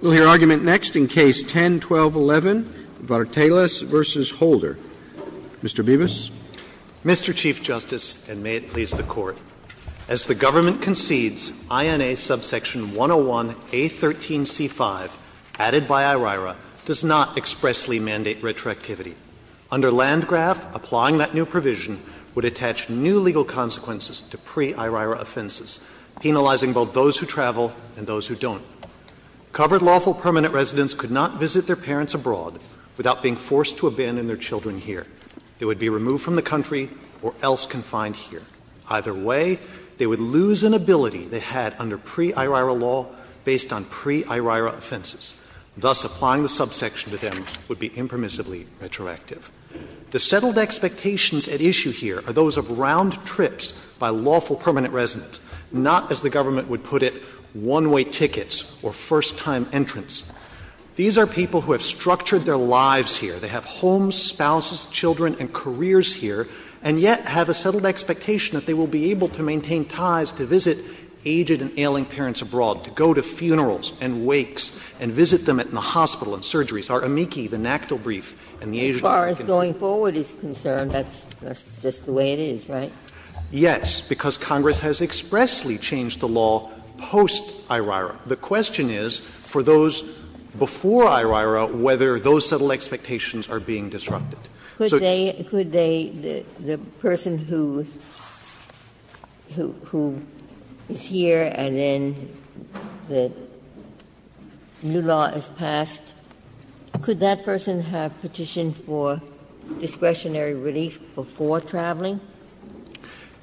We'll hear argument next in Case 10-1211, Vartelas v. Holder. Mr. Bibas. Mr. Chief Justice, and may it please the Court, as the government concedes, INA subsection 101A13C5, added by IRIRA, does not expressly mandate retroactivity. Under Landgraf, applying that new provision would attach new legal consequences to pre-IRIRA offenses, penalizing both those who travel and those who don't. Covered lawful permanent residents could not visit their parents abroad without being forced to abandon their children here. They would be removed from the country or else confined here. Either way, they would lose an ability they had under pre-IRIRA law based on pre-IRIRA offenses. Thus, applying the subsection to them would be impermissibly retroactive. The settled expectations at issue here are those of round trips by lawful permanent residents, not, as the government would put it, one-way tickets or first-time entrants. These are people who have structured their lives here. They have homes, spouses, children, and careers here, and yet have a settled expectation that they will be able to maintain ties to visit aged and ailing parents abroad, to go to funerals and wakes and visit them in the hospital and surgeries. Our amici, the NACDL brief, and the aged and ailing parents. Ginsburg. As far as going forward is concerned, that's just the way it is, right? Yes, because Congress has expressly changed the law post-IRIRA. The question is, for those before IRIRA, whether those settled expectations are being disrupted. Could they, the person who is here and then the new law is passed, could that person have petition for discretionary relief before traveling?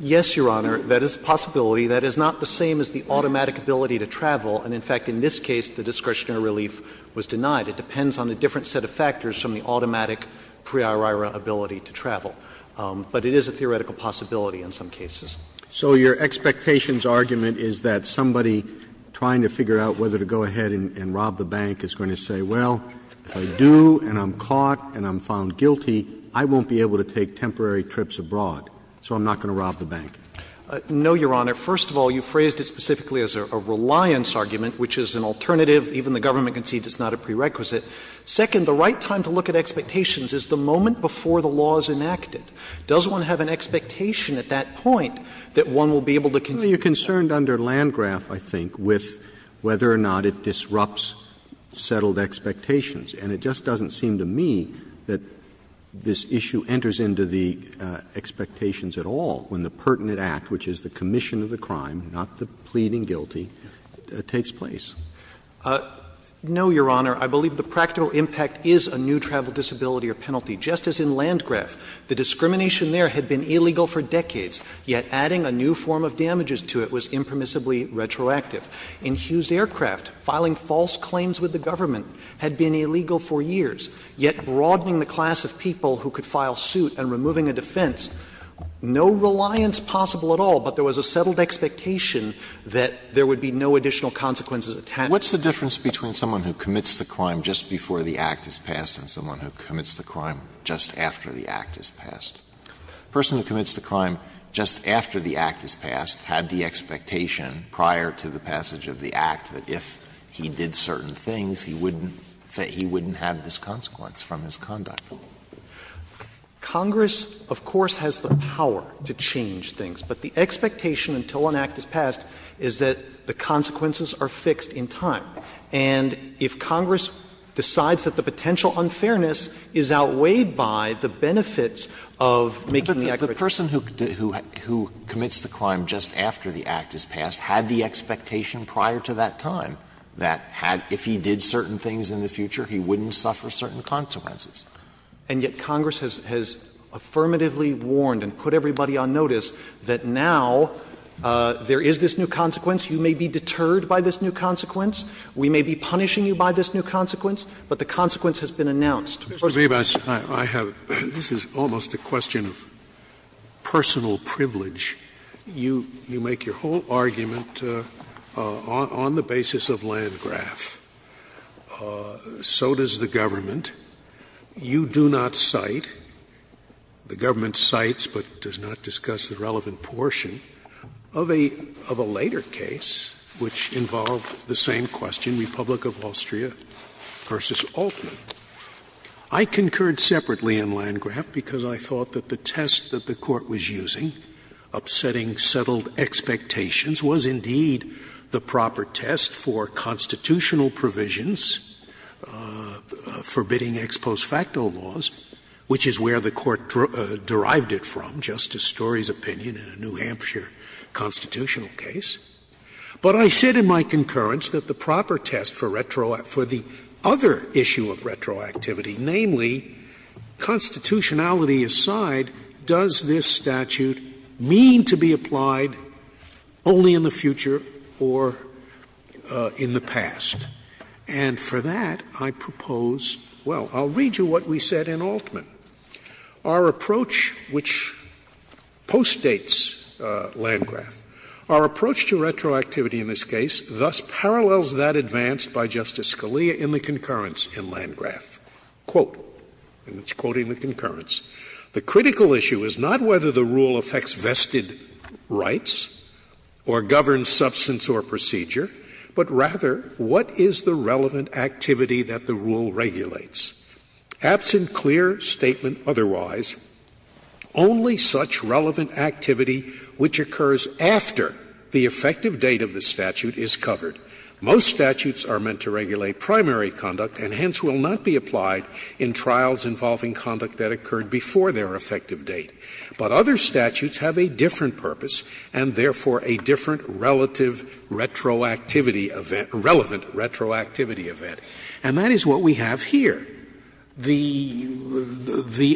Yes, Your Honor. That is a possibility. That is not the same as the automatic ability to travel, and, in fact, in this case the discretionary relief was denied. It depends on a different set of factors from the automatic pre-IRIRA ability to travel. But it is a theoretical possibility in some cases. So your expectations argument is that somebody trying to figure out whether to go ahead and rob the bank is going to say, well, if I do and I'm caught and I'm found guilty, I won't be able to take temporary trips abroad, so I'm not going to rob the bank. No, Your Honor. First of all, you phrased it specifically as a reliance argument, which is an alternative. Even the government concedes it's not a prerequisite. Second, the right time to look at expectations is the moment before the law is enacted. Does one have an expectation at that point that one will be able to continue? Roberts, you are concerned under Landgraf, I think, with whether or not it disrupts settled expectations. And it just doesn't seem to me that this issue enters into the expectations at all when the pertinent act, which is the commission of the crime, not the pleading guilty, takes place. No, Your Honor. I believe the practical impact is a new travel disability or penalty. Just as in Landgraf, the discrimination there had been illegal for decades, yet adding a new form of damages to it was impermissibly retroactive. In Hughes Aircraft, filing false claims with the government had been illegal for years, yet broadening the class of people who could file suit and removing a defense, no reliance possible at all, but there was a settled expectation that there would be no additional consequences attached to it. Alito What's the difference between someone who commits the crime just before the act is passed and someone who commits the crime just after the act is passed? A person who commits the crime just after the act is passed had the expectation prior to the passage of the act that if he did certain things, he wouldn't have this consequence from his conduct. Congress, of course, has the power to change things. But the expectation until an act is passed is that the consequences are fixed in time. And if Congress decides that the potential unfairness is outweighed by the benefits of making the act correct. Alito But the person who commits the crime just after the act is passed had the expectation prior to that time that had — if he did certain things in the future, he wouldn't suffer certain consequences. And yet Congress has affirmatively warned and put everybody on notice that now there is this new consequence. You may be deterred by this new consequence. We may be punishing you by this new consequence, but the consequence has been announced. Scalia Mr. Bibas, I have — this is almost a question of personal privilege. You make your whole argument on the basis of Landgraf. So does the government. You do not cite, the government cites but does not discuss the relevant portion of a later case which involved the same question, Republic of Austria v. Altman. I concurred separately on Landgraf because I thought that the test that the Court was using, upsetting settled expectations, was indeed the proper test for constitutional provisions forbidding ex post facto laws, which is where the Court derived it from, Justice Story's opinion in a New Hampshire constitutional case. But I said in my concurrence that the proper test for the other issue of retroactivity, namely constitutionality aside, does this statute mean to be applied only in the future or in the past? And for that, I propose — well, I'll read you what we said in Altman. Our approach, which postdates Landgraf, our approach to retroactivity in this case thus parallels that advanced by Justice Scalia in the concurrence in Landgraf. Quote, and it's quoting the concurrence, the critical issue is not whether the rule affects vested rights or governs substance or procedure, but rather what is the relevant activity that the rule regulates. Absent clear statement otherwise, only such relevant activity which occurs after the effective date of the statute is covered. Most statutes are meant to regulate primary conduct and hence will not be applied in trials involving conduct that occurred before their effective date. But other statutes have a different purpose and therefore a different relative retroactivity event — relevant retroactivity event. And that is what we have here. The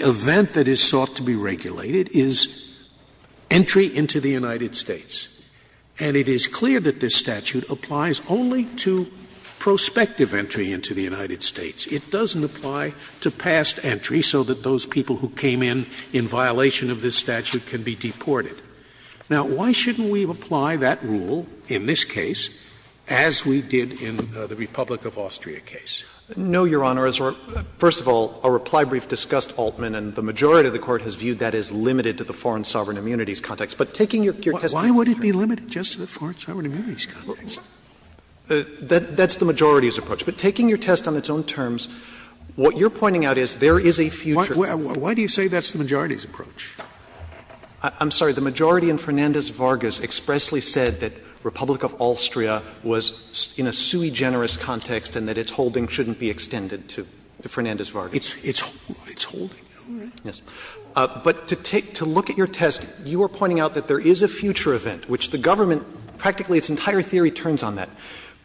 event that is sought to be regulated is entry into the United States. And it is clear that this statute applies only to prospective entry into the United States. It doesn't apply to past entry so that those people who came in in violation of this statute can be deported. Now, why shouldn't we apply that rule in this case as we did in the Republic of Austria case? No, Your Honor. First of all, our reply brief discussed Altman, and the majority of the Court has viewed that as limited to the foreign sovereign immunities context. But taking your test on its own terms. Scalia, why would it be limited just to the foreign sovereign immunities context? That's the majority's approach. But taking your test on its own terms, what you're pointing out is there is a future Why do you say that's the majority's approach? I'm sorry. The majority in Fernandez-Vargas expressly said that Republic of Austria was in a sui generis context and that its holding shouldn't be extended to Fernandez-Vargas. Its holding. Yes. But to take — to look at your test, you are pointing out that there is a future event, which the government, practically its entire theory turns on that.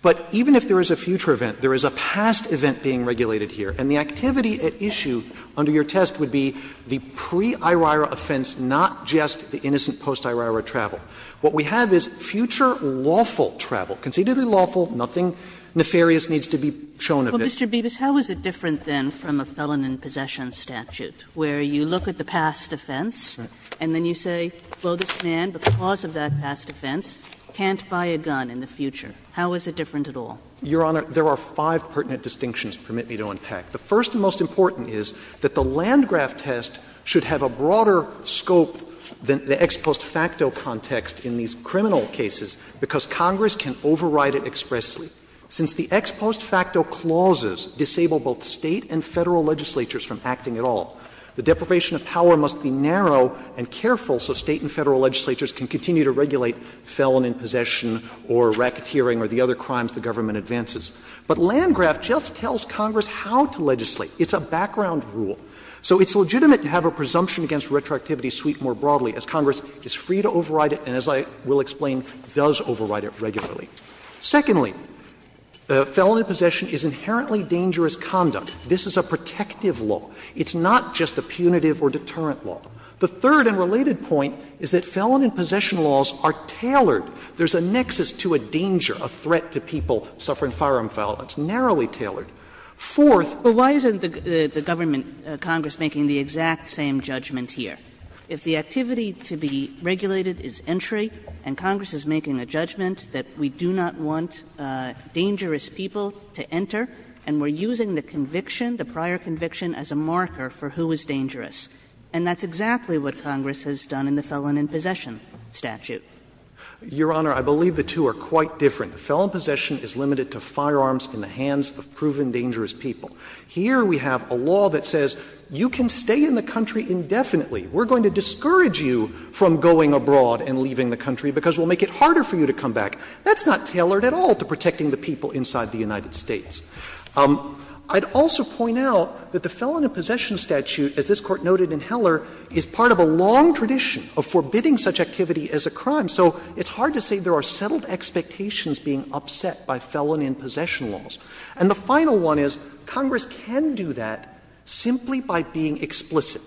But even if there is a future event, there is a past event being regulated here, and the activity at issue under your test would be the pre-IRIRA offense, not just the innocent post-IRIRA travel. What we have is future lawful travel, concededly lawful, nothing nefarious needs to be shown of this. Well, Mr. Bibas, how is it different, then, from a felon in possession statute where you look at the past offense and then you say, woe this man, but the cause of that past offense, can't buy a gun in the future? How is it different at all? Your Honor, there are five pertinent distinctions, permit me to unpack. The first and most important is that the Landgraf test should have a broader scope than the ex post facto context in these criminal cases, because Congress can override it expressly. Since the ex post facto clauses disable both State and Federal legislatures from acting at all, the deprivation of power must be narrow and careful so State and Federal legislatures can continue to regulate felon in possession or racketeering or the other crimes the government advances. But Landgraf just tells Congress how to legislate. It's a background rule. So it's legitimate to have a presumption against retroactivity sweep more broadly, as Congress is free to override it and, as I will explain, does override it regularly. Secondly, felon in possession is inherently dangerous conduct. This is a protective law. It's not just a punitive or deterrent law. The third and related point is that felon in possession laws are tailored. There is a nexus to a danger, a threat to people suffering firearm violence, narrowly tailored. Fourth Kagan But why isn't the government, Congress, making the exact same judgment here? If the activity to be regulated is entry and Congress is making a judgment that we do not want dangerous people to enter and we're using the conviction, the prior conviction, as a marker for who is dangerous. And that's exactly what Congress has done in the felon in possession statute. Waxman Your Honor, I believe the two are quite different. Felon in possession is limited to firearms in the hands of proven dangerous people. Here we have a law that says you can stay in the country indefinitely. We're going to discourage you from going abroad and leaving the country because we'll make it harder for you to come back. That's not tailored at all to protecting the people inside the United States. I'd also point out that the felon in possession statute, as this Court noted in Heller, is part of a long tradition of forbidding such activity as a crime. So it's hard to say there are settled expectations being upset by felon in possession laws. And the final one is Congress can do that simply by being explicit.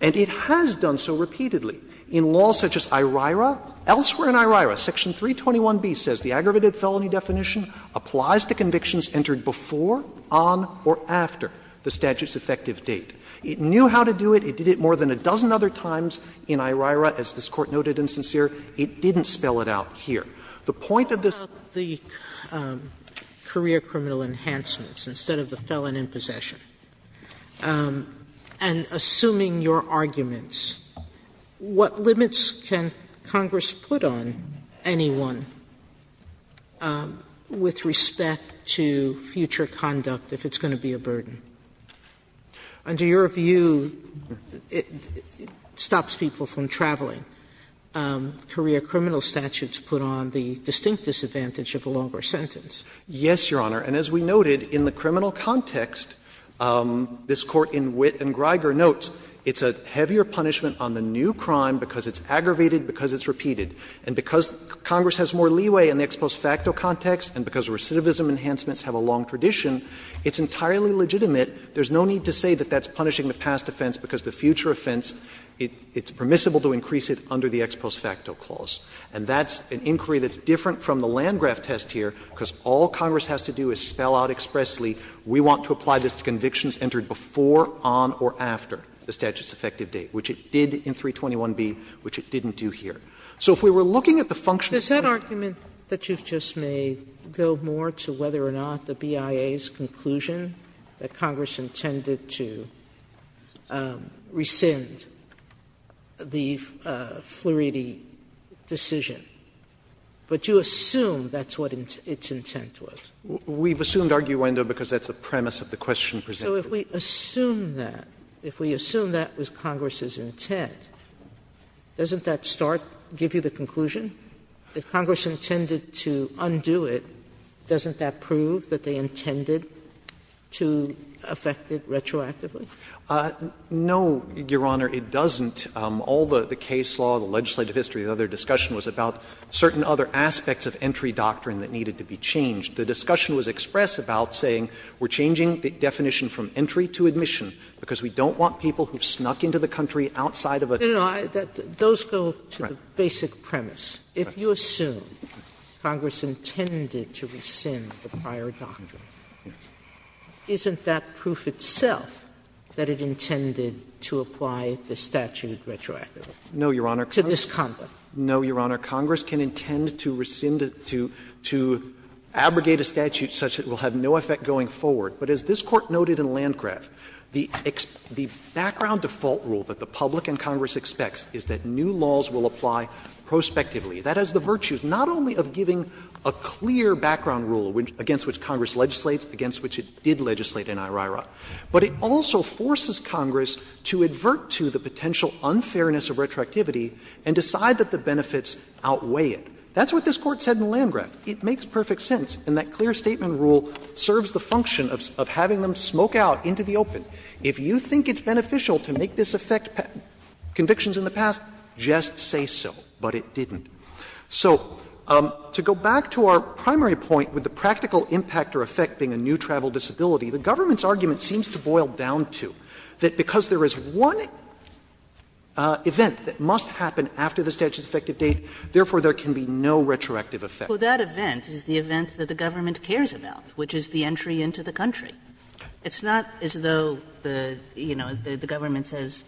And it has done so repeatedly in laws such as IRIRA. Elsewhere in IRIRA, section 321b says the aggravated felony definition applies to convictions entered before, on, or after the statute's effective date. It knew how to do it. It did it more than a dozen other times in IRIRA, as this Court noted in Sincere. It didn't spell it out here. The point of this Sotomayor What about the career criminal enhancements instead of the felon in possession? And assuming your arguments, what limits can Congress put on anyone with respect to future conduct if it's going to be a burden? Under your view, it stops people from traveling. Career criminal statutes put on the distinct disadvantage of a longer sentence. Yes, Your Honor. And as we noted, in the criminal context, this Court in Witt and Greiger notes, it's a heavier punishment on the new crime because it's aggravated, because it's repeated. And because Congress has more leeway in the ex post facto context and because recidivism enhancements have a long tradition, it's entirely legitimate. There's no need to say that that's punishing the past offense because the future offense, it's permissible to increase it under the ex post facto clause. And that's an inquiry that's different from the Landgraf test here, because all Congress has to do is spell out expressly, we want to apply this to convictions entered before, on, or after the statute's effective date, which it did in 321b, which it didn't do here. Sotomayor, I don't want to go any more to whether or not the BIA's conclusion that Congress intended to rescind the Flaherty decision, but you assume that's what its intent was. We've assumed arguendo because that's the premise of the question presented. So if we assume that, if we assume that was Congress's intent, doesn't that start to give you the conclusion? If Congress intended to undo it, doesn't that prove that they intended to affect it retroactively? No, Your Honor, it doesn't. All the case law, the legislative history, the other discussion was about certain other aspects of entry doctrine that needed to be changed. The discussion was express about saying we're changing the definition from entry to admission because we don't want people who snuck into the country outside of a country that's not a country. Sotomayor, those go to the basic premise. If you assume Congress intended to rescind the prior doctrine, isn't that proof itself that it intended to apply the statute retroactively? No, Your Honor. To this conduct. No, Your Honor. Congress can intend to rescind it to abrogate a statute such that it will have no effect going forward. But as this Court noted in Landgraf, the background default rule that the public and Congress expects is that new laws will apply prospectively. That has the virtues not only of giving a clear background rule against which Congress legislates, against which it did legislate in IRIRA, but it also forces Congress to advert to the potential unfairness of retroactivity and decide that the benefits outweigh it. That's what this Court said in Landgraf. It makes perfect sense. And that clear statement rule serves the function of having them smoke out into the open. If you think it's beneficial to make this affect convictions in the past, just say so. But it didn't. So to go back to our primary point with the practical impact or effect being a new travel disability, the government's argument seems to boil down to that because there is one event that must happen after the statute's effective date, therefore there can be no retroactive effect. Kagan. Kagan. Kagan. Kagan. Kagan. Kagan. Kagan. Kagan. Kagan. Kagan. Kagan. Kagan. Kagan. So the government says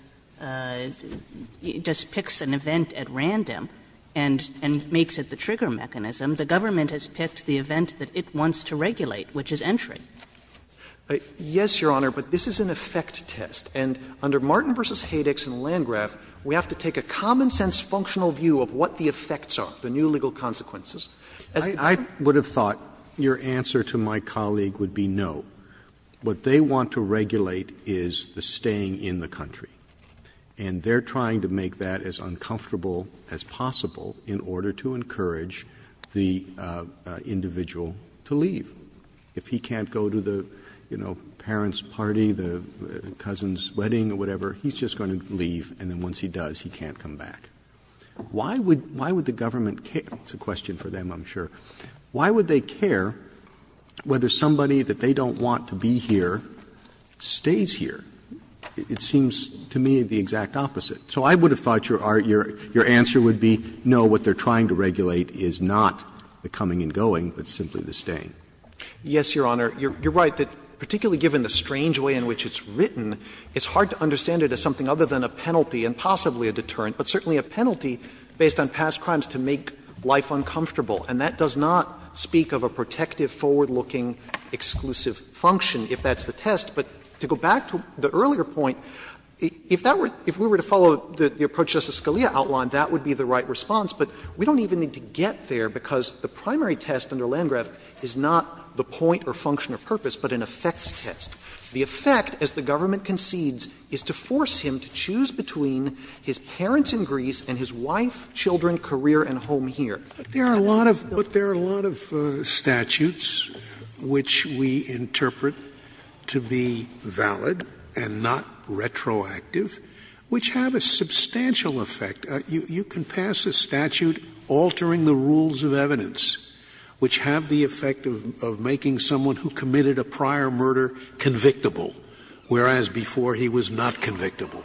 just picks an event at random and makes it the trigger mechanism. The government has picked the event that it wants to regulate, which is entry. Verrilli, Yes, Your Honor, but this is an effect test. And under Martin v. Hadex and Landgraf, we have to take a common-sense functional view of what the effects are, the new legal consequences. Roberts, I would have thought your answer to my colleague would be no. What they want to regulate is the staying in the country. And they're trying to make that as uncomfortable as possible in order to encourage the individual to leave. If he can't go to the parent's party, the cousin's wedding, or whatever, he's just going to leave. And then once he does, he can't come back. Why would the government care? It's a question for them, I'm sure. Why would they care whether somebody that they don't want to be here stays here? It seems to me the exact opposite. So I would have thought your answer would be no, what they're trying to regulate is not the coming and going, but simply the staying. Verrilli, Yes, Your Honor. You're right that, particularly given the strange way in which it's written, it's hard to understand it as something other than a penalty and possibly a deterrent, but certainly a penalty based on past crimes to make life uncomfortable. And that does not speak of a protective, forward-looking, exclusive function, if that's the test. But to go back to the earlier point, if that were, if we were to follow the approach Justice Scalia outlined, that would be the right response, but we don't even need to get there because the primary test under Landgraf is not the point or function or purpose, but an effects test. The effect, as the government concedes, is to force him to choose between his parents in Greece and his wife, children, career, and home here. There are a lot of statutes, which we interpret to be valid and not retroactive, which have a substantial effect. You can pass a statute altering the rules of evidence, which have the effect of making someone who committed a prior murder convictable, whereas before he was not convictable.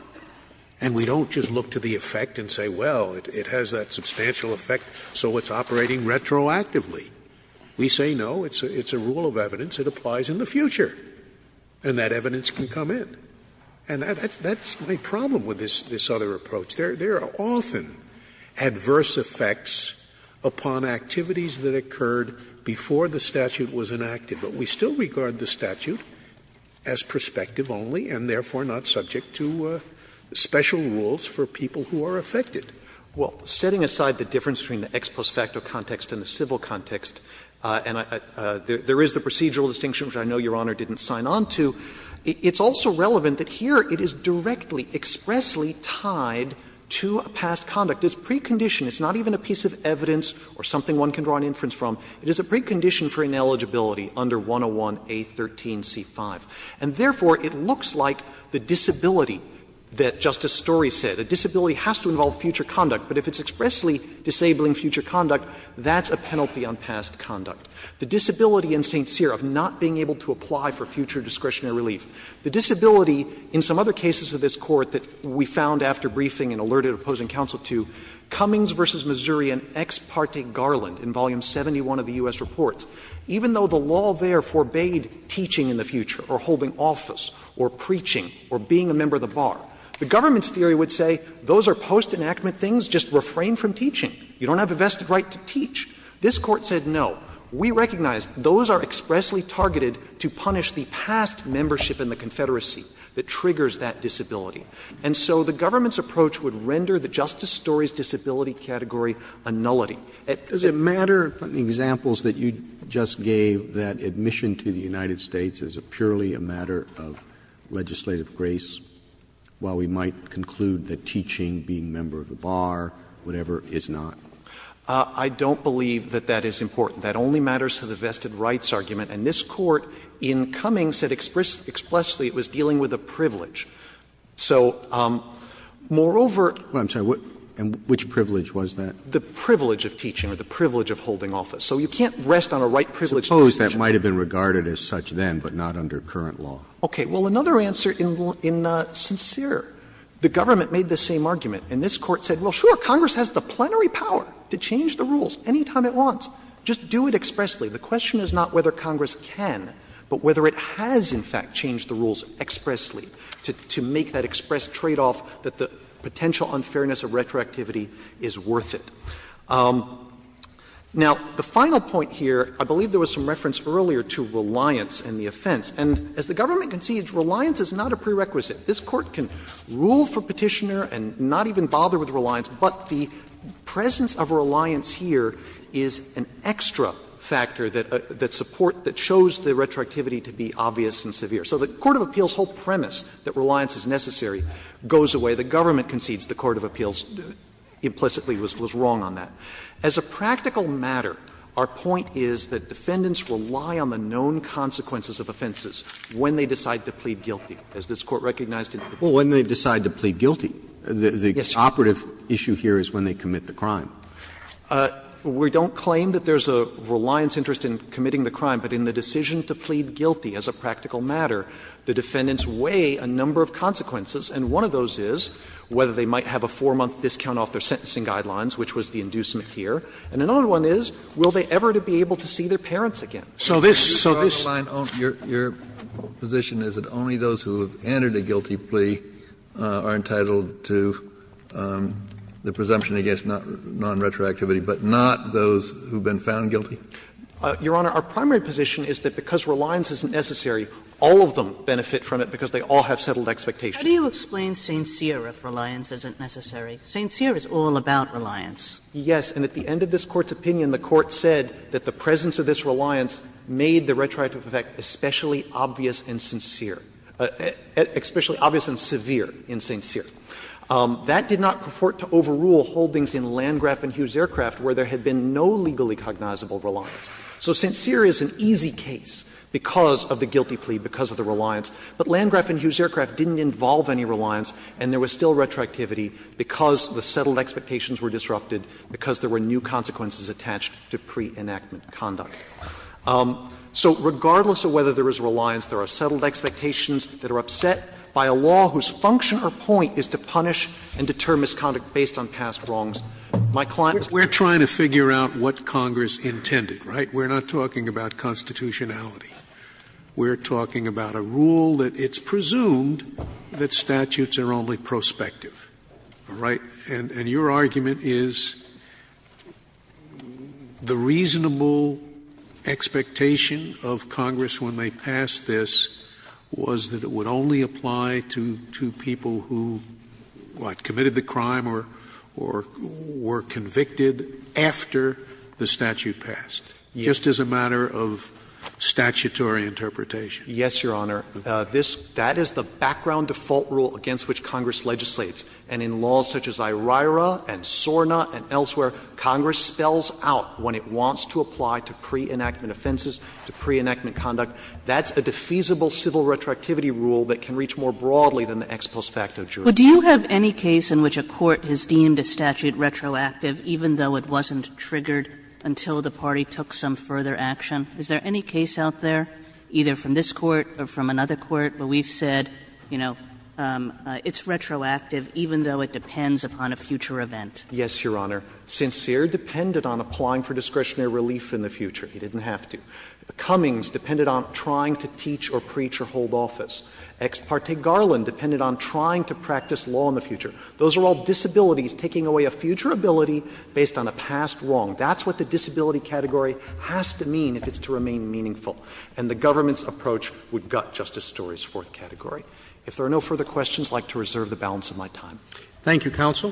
And we don't just look to the effect and say, well, it has that substantial effect, so it's operating retroactively. We say, no, it's a rule of evidence, it applies in the future, and that evidence can come in. And that's my problem with this other approach. There are often adverse effects upon activities that occurred before the statute was enacted, but we still regard the statute as prospective only and therefore not subject to special rules for people who are affected. Well, setting aside the difference between the ex post facto context and the civil context, and there is the procedural distinction, which I know Your Honor didn't sign on to, it's also relevant that here it is directly, expressly tied to a past conduct. It's preconditioned. It's not even a piece of evidence or something one can draw an inference from. It is a precondition for ineligibility under 101A13C5. And therefore, it looks like the disability that Justice Story said. A disability has to involve future conduct, but if it's expressly disabling future conduct, that's a penalty on past conduct. The disability in St. Cyr of not being able to apply for future discretionary relief. The disability in some other cases of this Court that we found after briefing and alerted opposing counsel to, Cummings v. Missouri and Ex parte Garland in Volume 71 of the U.S. Reports. Even though the law there forbade teaching in the future or holding office or preaching or being a member of the bar, the government's theory would say those are post-enactment things, just refrain from teaching. You don't have a vested right to teach. This Court said no. We recognize those are expressly targeted to punish the past membership in the Confederacy that triggers that disability. And so the government's approach would render the Justice Story's disability category a nullity. It's a matter of the examples that you just gave that admission to the United States is purely a matter of legislative grace, while we might conclude that teaching, being a member of the bar, whatever, is not. I don't believe that that is important. That only matters to the vested rights argument. And this Court in Cummings said expressly it was dealing with a privilege. So, moreover, Well, I'm sorry, which privilege was that? The privilege of teaching or the privilege of holding office. So you can't rest on a right privilege to teach. I suppose that might have been regarded as such then, but not under current law. Okay. Well, another answer in sincere. The government made the same argument, and this Court said, well, sure, Congress has the plenary power to change the rules any time it wants. Just do it expressly. The question is not whether Congress can, but whether it has in fact changed the rules expressly to make that express tradeoff that the potential unfairness of retroactivity is worth it. Now, the final point here, I believe there was some reference earlier to reliance and the offense. And as the government concedes, reliance is not a prerequisite. This Court can rule for Petitioner and not even bother with reliance, but the presence of reliance here is an extra factor that supports, that shows the retroactivity to be obvious and severe. So the court of appeals' whole premise that reliance is necessary goes away. The government concedes the court of appeals implicitly was wrong on that. As a practical matter, our point is that defendants rely on the known consequences of offenses when they decide to plead guilty, as this Court recognized in the Petitioner. Roberts. Roberts. The operative issue here is when they commit the crime. We don't claim that there is a reliance interest in committing the crime, but in the decision to plead guilty as a practical matter, the defendants weigh a number of consequences, and one of those is whether they might have a 4-month discount off their sentencing guidelines, which was the inducement here. And another one is will they ever be able to see their parents again. So this, so this. Kennedy. Your position is that only those who have entered a guilty plea are entitled to the presumption against nonretroactivity, but not those who have been found guilty? Your Honor, our primary position is that because reliance isn't necessary, all of them benefit from it because they all have settled expectations. How do you explain sincere if reliance isn't necessary? Sincere is all about reliance. Yes. And at the end of this Court's opinion, the Court said that the presence of this reliance made the retroactive effect especially obvious and sincere, especially obvious and severe in sincere. That did not purport to overrule holdings in Landgraf and Hughes Aircraft where there had been no legally cognizable reliance. So sincere is an easy case because of the guilty plea, because of the reliance. But Landgraf and Hughes Aircraft didn't involve any reliance, and there was still retroactivity because the settled expectations were disrupted, because there were new consequences attached to pre-enactment conduct. So regardless of whether there is reliance, there are settled expectations that are upset by a law whose function or point is to punish and deter misconduct based on past wrongs. My client is trying to figure out what Congress intended, right? We're not talking about constitutionality. We're talking about a rule that it's presumed that statutes are only prospective, all right? And your argument is the reasonable expectation of Congress when they passed this was that it would only apply to people who, what, committed the crime or were convicted after the statute passed? Yes. Just as a matter of statutory interpretation. Yes, Your Honor. This — that is the background default rule against which Congress legislates. And in laws such as IRIRA and SORNA and elsewhere, Congress spells out when it wants to apply to pre-enactment offenses, to pre-enactment conduct. That's a defeasible civil retroactivity rule that can reach more broadly than the ex post facto jurisdiction. But do you have any case in which a court has deemed a statute retroactive even though it wasn't triggered until the party took some further action? Is there any case out there, either from this Court or from another Court, where we've said, you know, it's retroactive even though it depends upon a future event? Yes, Your Honor. Sincere depended on applying for discretionary relief in the future. He didn't have to. Cummings depended on trying to teach or preach or hold office. Ex parte Garland depended on trying to practice law in the future. Those are all disabilities, taking away a future ability based on a past wrong. That's what the disability category has to mean if it's to remain meaningful. And the government's approach would gut Justice Story's fourth category. If there are no further questions, I'd like to reserve the balance of my time. Roberts. Thank you, counsel.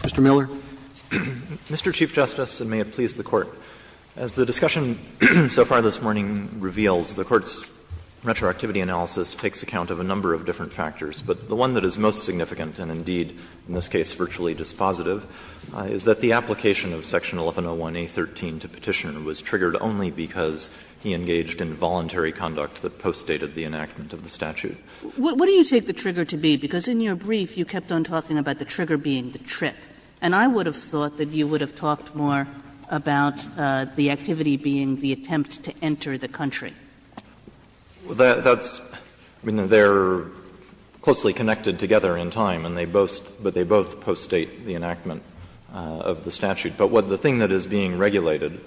Mr. Miller. Mr. Chief Justice, and may it please the Court. As the discussion so far this morning reveals, the Court's retroactivity analysis takes account of a number of different factors. But the one that is most significant, and indeed in this case virtually dispositive, is that the application of section 1101A.13 to Petitioner was triggered only because he engaged in voluntary conduct that postdated the enactment of the statute. What do you take the trigger to be? Because in your brief you kept on talking about the trigger being the trip. And I would have thought that you would have talked more about the activity being the attempt to enter the country. Miller, that's – I mean, they're closely connected together in time, and they both – but they both postdate the enactment of the statute. But what the thing that is being regulated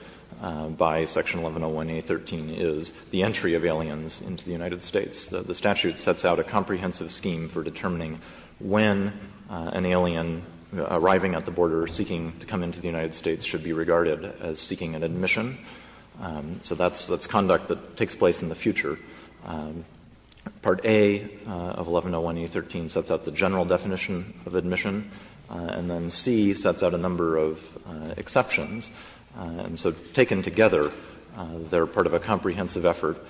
by section 1101A.13 is the entry of aliens into the United States. The statute sets out a comprehensive scheme for determining when an alien arriving at the border seeking to come into the United States should be regarded as seeking an admission. So that's conduct that takes place in the future. Part A of 1101A.13 sets out the general definition of admission, and then C sets out a number of exceptions. And so taken together, they're part of a comprehensive effort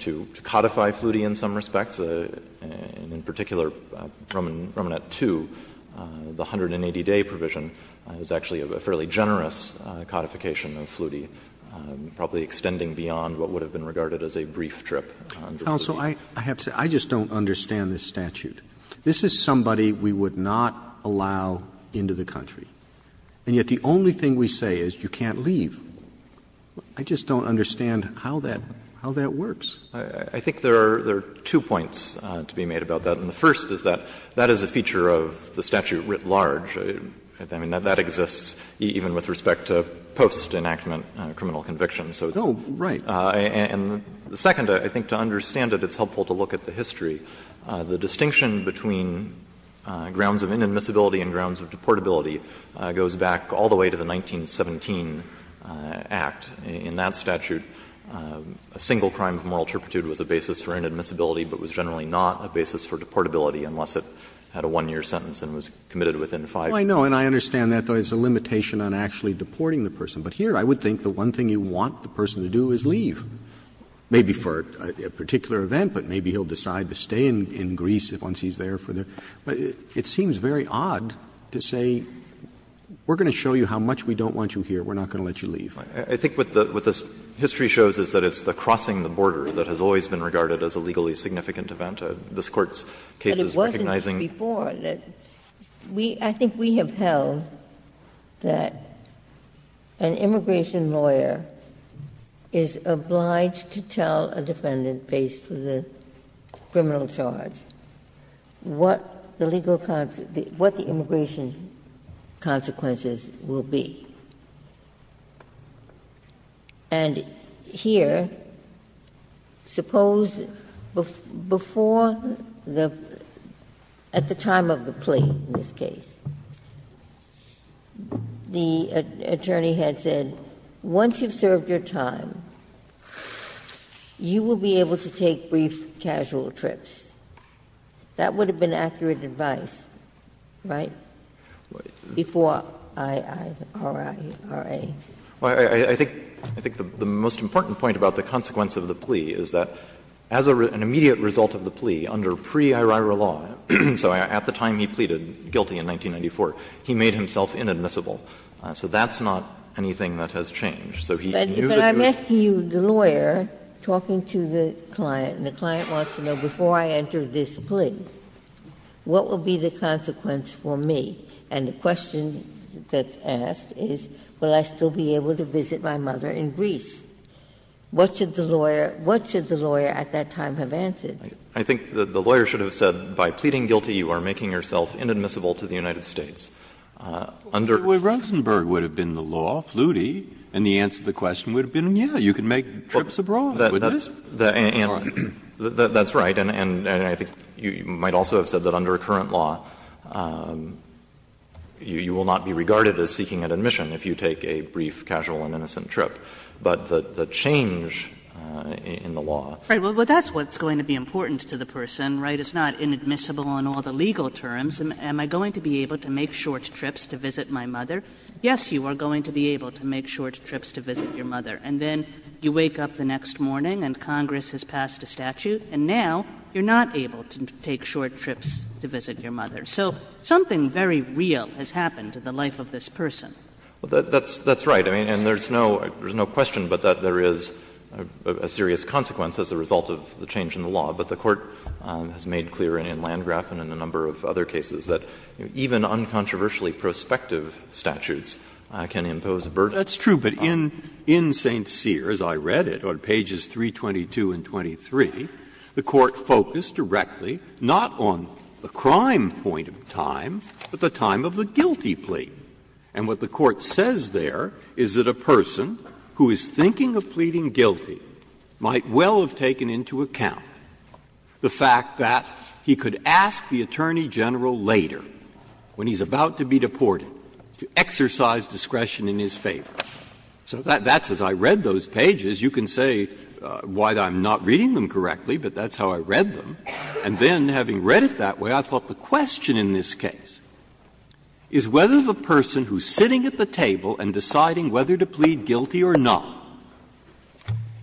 to codify Flutie in some respects. In particular, from Romanet 2, the 180-day provision is actually a fairly generous codification of Flutie, probably extending beyond what would have been regarded as a brief trip. Roberts. I have to say, I just don't understand this statute. This is somebody we would not allow into the country. And yet the only thing we say is you can't leave. I just don't understand how that works. I think there are two points to be made about that. And the first is that that is a feature of the statute writ large. I mean, that exists even with respect to post-enactment criminal convictions. So it's the second, I think, to understand it, it's helpful to look at the history. The distinction between grounds of inadmissibility and grounds of deportability goes back all the way to the 1917 Act. In that statute, a single crime of moral turpitude was a basis for inadmissibility, but was generally not a basis for deportability unless it had a one-year sentence and was committed within five years. Roberts. And I understand that there is a limitation on actually deporting the person. But here I would think the one thing you want the person to do is leave, maybe for a particular event, but maybe he'll decide to stay in Greece once he's there for the But it seems very odd to say we're going to show you how much we don't want you here. We're not going to let you leave. I think what this history shows is that it's the crossing the border that has always been regarded as a legally significant event. This Court's case is recognizing. But it wasn't before. I think we have held that an immigration lawyer is obliged to tell a defendant based on the criminal charge what the legal consequences, what the immigration consequences will be. And here, suppose before the, at the time of the plea in this case, the attorney had said, once you've served your time, you will be able to take brief casual trips. That would have been accurate advice, right, before IIRIRA? Well, I think the most important point about the consequence of the plea is that as an immediate result of the plea under pre-IRIRA law, so at the time he pleaded guilty in 1994, he made himself inadmissible. So that's not anything that has changed. So he knew that he was going to be inadmissible. Ginsburg. But I'm asking you, the lawyer talking to the client, and the client wants to know before I enter this plea, what will be the consequence for me? And the question that's asked is, will I still be able to visit my mother in Greece? What should the lawyer, what should the lawyer at that time have answered? I think the lawyer should have said, by pleading guilty, you are making yourself inadmissible to the United States. Under the current law, you will not be regarded as seeking an admission if you take a brief casual and innocent trip, but the change in the law. Right. Well, that's what's going to be important to the person, right, it's not inadmissible on all the legal terms. on all the legal terms. But the court has made clear in Landgraf and in a number of other cases that, even to take short trips to visit my mother. Yes, you are going to be able to make short trips to visit your mother, and then you wake up the next morning and Congress has passed a statute, and now you're not able to take short trips to visit your mother. So something very real has happened to the life of this person. Well, that's right. I mean, and there's no question but that there is a serious consequence as a result of the change in the law. But the court has made clear in Landgraf and in a number of other cases that even uncontroversially prospective statutes can impose a burden. That's true, but in St. Cyr, as I read it, on pages 322 and 23, the court focused directly not on the crime point of time, but the time of the guilty plea. And what the court says there is that a person who is thinking of pleading guilty might well have taken into account the fact that he could ask the Attorney General later, when he's about to be deported, to exercise discretion in his favor. So that's as I read those pages. You can say why I'm not reading them correctly, but that's how I read them. And then, having read it that way, I thought the question in this case is whether the person who's sitting at the table and deciding whether to plead guilty or not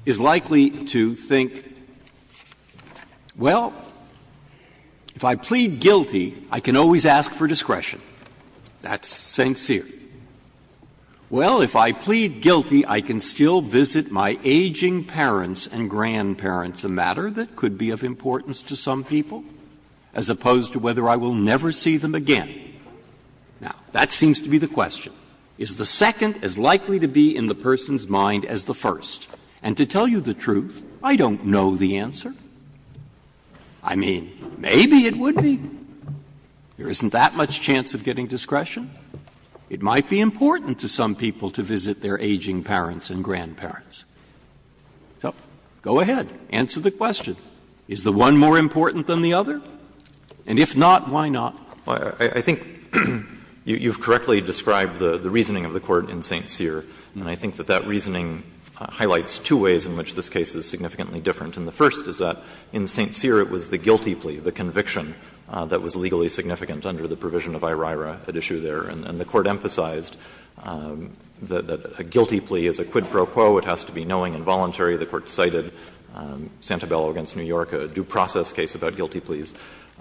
is likely to think, well, if I plead guilty, I can always ask for discretion. That's St. Cyr. Well, if I plead guilty, I can still visit my aging parents and grandparents, a matter that could be of importance to some people, as opposed to whether I will never see them again. Now, that seems to be the question. Is the second as likely to be in the person's mind as the first? And to tell you the truth, I don't know the answer. I mean, maybe it would be. There isn't that much chance of getting discretion. It might be important to some people to visit their aging parents and grandparents. So go ahead. Answer the question. Is the one more important than the other? And if not, why not? I think you've correctly described the reasoning of the Court in St. Cyr, and I think that that reasoning highlights two ways in which this case is significantly different. And the first is that in St. Cyr it was the guilty plea, the conviction, that was legally significant under the provision of IRIRA at issue there. And the Court emphasized that a guilty plea is a quid pro quo. It has to be knowing and voluntary. The Court cited Santabella v. New York, a due process case about guilty pleas.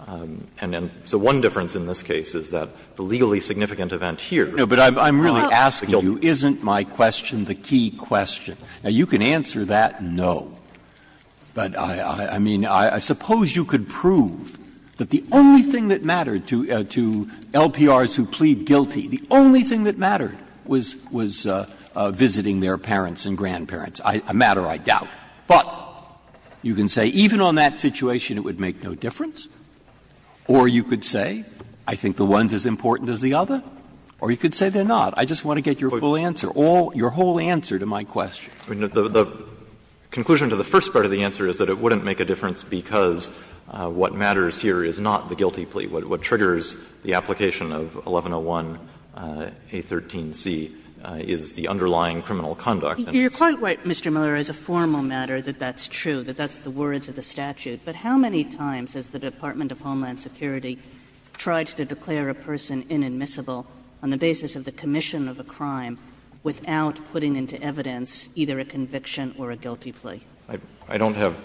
And so one difference in this case is that the legally significant event here is not the guilty plea. Breyer. But I'm really asking you, isn't my question the key question? Now, you can answer that no. But I mean, I suppose you could prove that the only thing that mattered to LPRs who plead guilty, the only thing that mattered was visiting their parents and grandparents. A matter, I doubt. But you can say even on that situation it would make no difference, or you could say I think the one's as important as the other, or you could say they're not. I just want to get your full answer, all your whole answer to my question. The conclusion to the first part of the answer is that it wouldn't make a difference because what matters here is not the guilty plea. What triggers the application of 1101a13c is the underlying criminal conduct. Kagan. You're quite right, Mr. Miller, as a formal matter, that that's true, that that's the words of the statute. But how many times has the Department of Homeland Security tried to declare a person inadmissible on the basis of the commission of a crime without putting into evidence either a conviction or a guilty plea? I don't have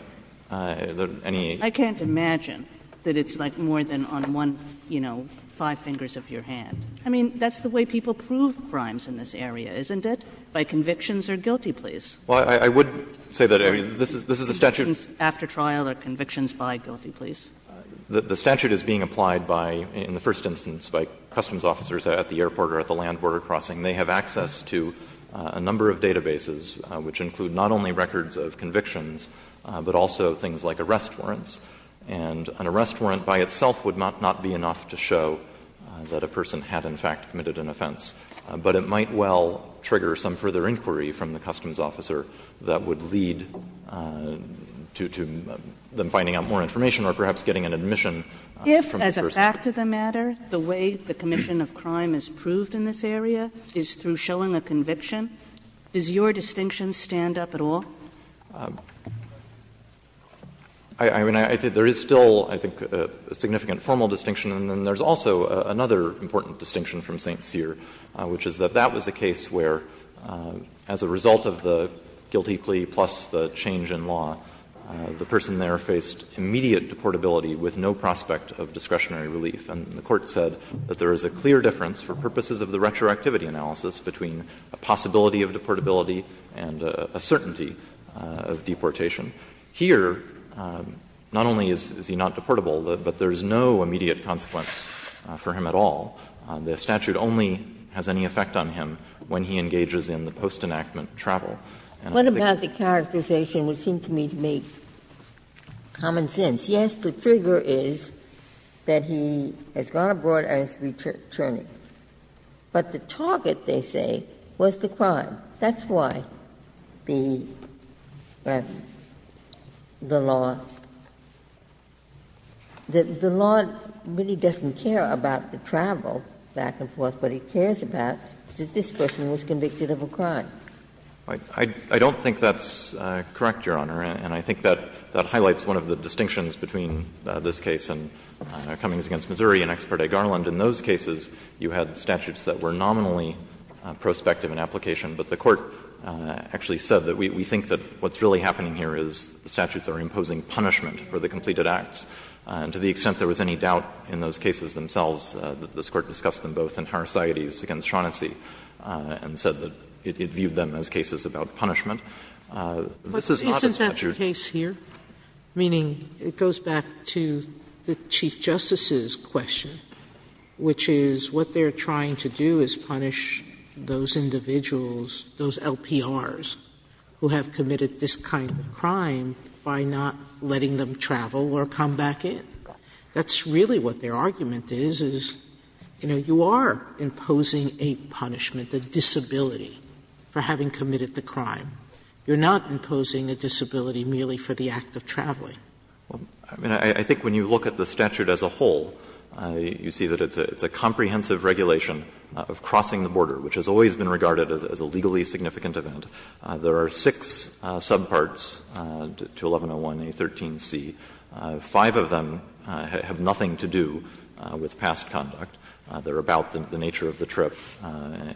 any. I can't imagine that it's like more than on one, you know, five fingers of your hand. I mean, that's the way people prove crimes in this area, isn't it? By convictions or guilty pleas. Well, I would say that, I mean, this is a statute. After trial or convictions by guilty pleas. The statute is being applied by, in the first instance, by customs officers at the airport or at the land border crossing. They have access to a number of databases which include not only records of convictions, but also things like arrest warrants. And an arrest warrant by itself would not be enough to show that a person had in fact committed an offense, but it might well trigger some further inquiry from the customs officer that would lead to them finding out more information or perhaps getting an admission from the first instance. If, as a fact of the matter, the way the commission of crime is proved in this area is through showing a conviction, does your distinction stand up at all? I mean, I think there is still, I think, a significant formal distinction. And then there is also another important distinction from St. Cyr, which is that that was a case where, as a result of the guilty plea plus the change in law, the person there faced immediate deportability with no prospect of discretionary relief. And the Court said that there is a clear difference for purposes of the retroactivity analysis between a possibility of deportability and a certainty of deportation. Here, not only is he not deportable, but there is no immediate consequence for him at all. The statute only has any effect on him when he engages in the post-enactment And I think that's the difference. Ginsburg. What about the characterization which seemed to me to make common sense? Yes, the trigger is that he has gone abroad and is returning. But the target, they say, was the crime. That's why the law, the law really doesn't care about the travel back and forth. What it cares about is that this person was convicted of a crime. I don't think that's correct, Your Honor. And I think that highlights one of the distinctions between this case and Cummings v. Missouri and Ex parte Garland. In those cases, you had statutes that were nominally prospective in application, but the Court actually said that we think that what's really happening here is the statutes are imposing punishment for the completed acts. And to the extent there was any doubt in those cases themselves, this Court discussed them both in Harris-Iottes v. Shaughnessy and said that it viewed them as cases about punishment. This is not as much as you're saying. Sotomayor, isn't that the case here? Meaning it goes back to the Chief Justice's question, which is what they are trying to do is punish those individuals, those LPRs, who have committed this kind of crime by not letting them travel or come back in? That's really what their argument is, is, you know, you are imposing a punishment, a disability, for having committed the crime. You're not imposing a disability merely for the act of traveling. I mean, I think when you look at the statute as a whole, you see that it's a comprehensive regulation of crossing the border, which has always been regarded as a legally significant event. There are six subparts to 1101a, 13c. Five of them have nothing to do with past conduct. They are about the nature of the trip and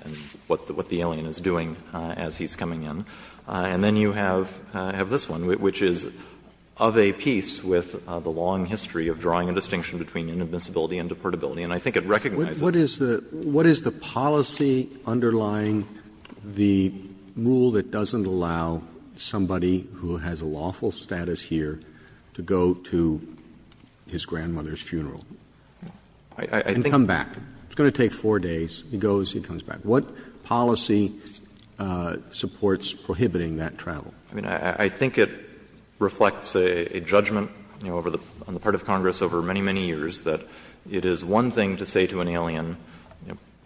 what the alien is doing as he's coming in. And then you have this one, which is of a piece with the long history of drawing a distinction between inadmissibility and deportability. And I think it recognizes that. Roberts What is the policy underlying the rule that doesn't allow somebody who has a lawful status here to go to his grandmother's funeral and come back? It's going to take four days. He goes, he comes back. What policy supports prohibiting that travel? I mean, I think it reflects a judgment, you know, on the part of Congress over many, many years that it is one thing to say to an alien,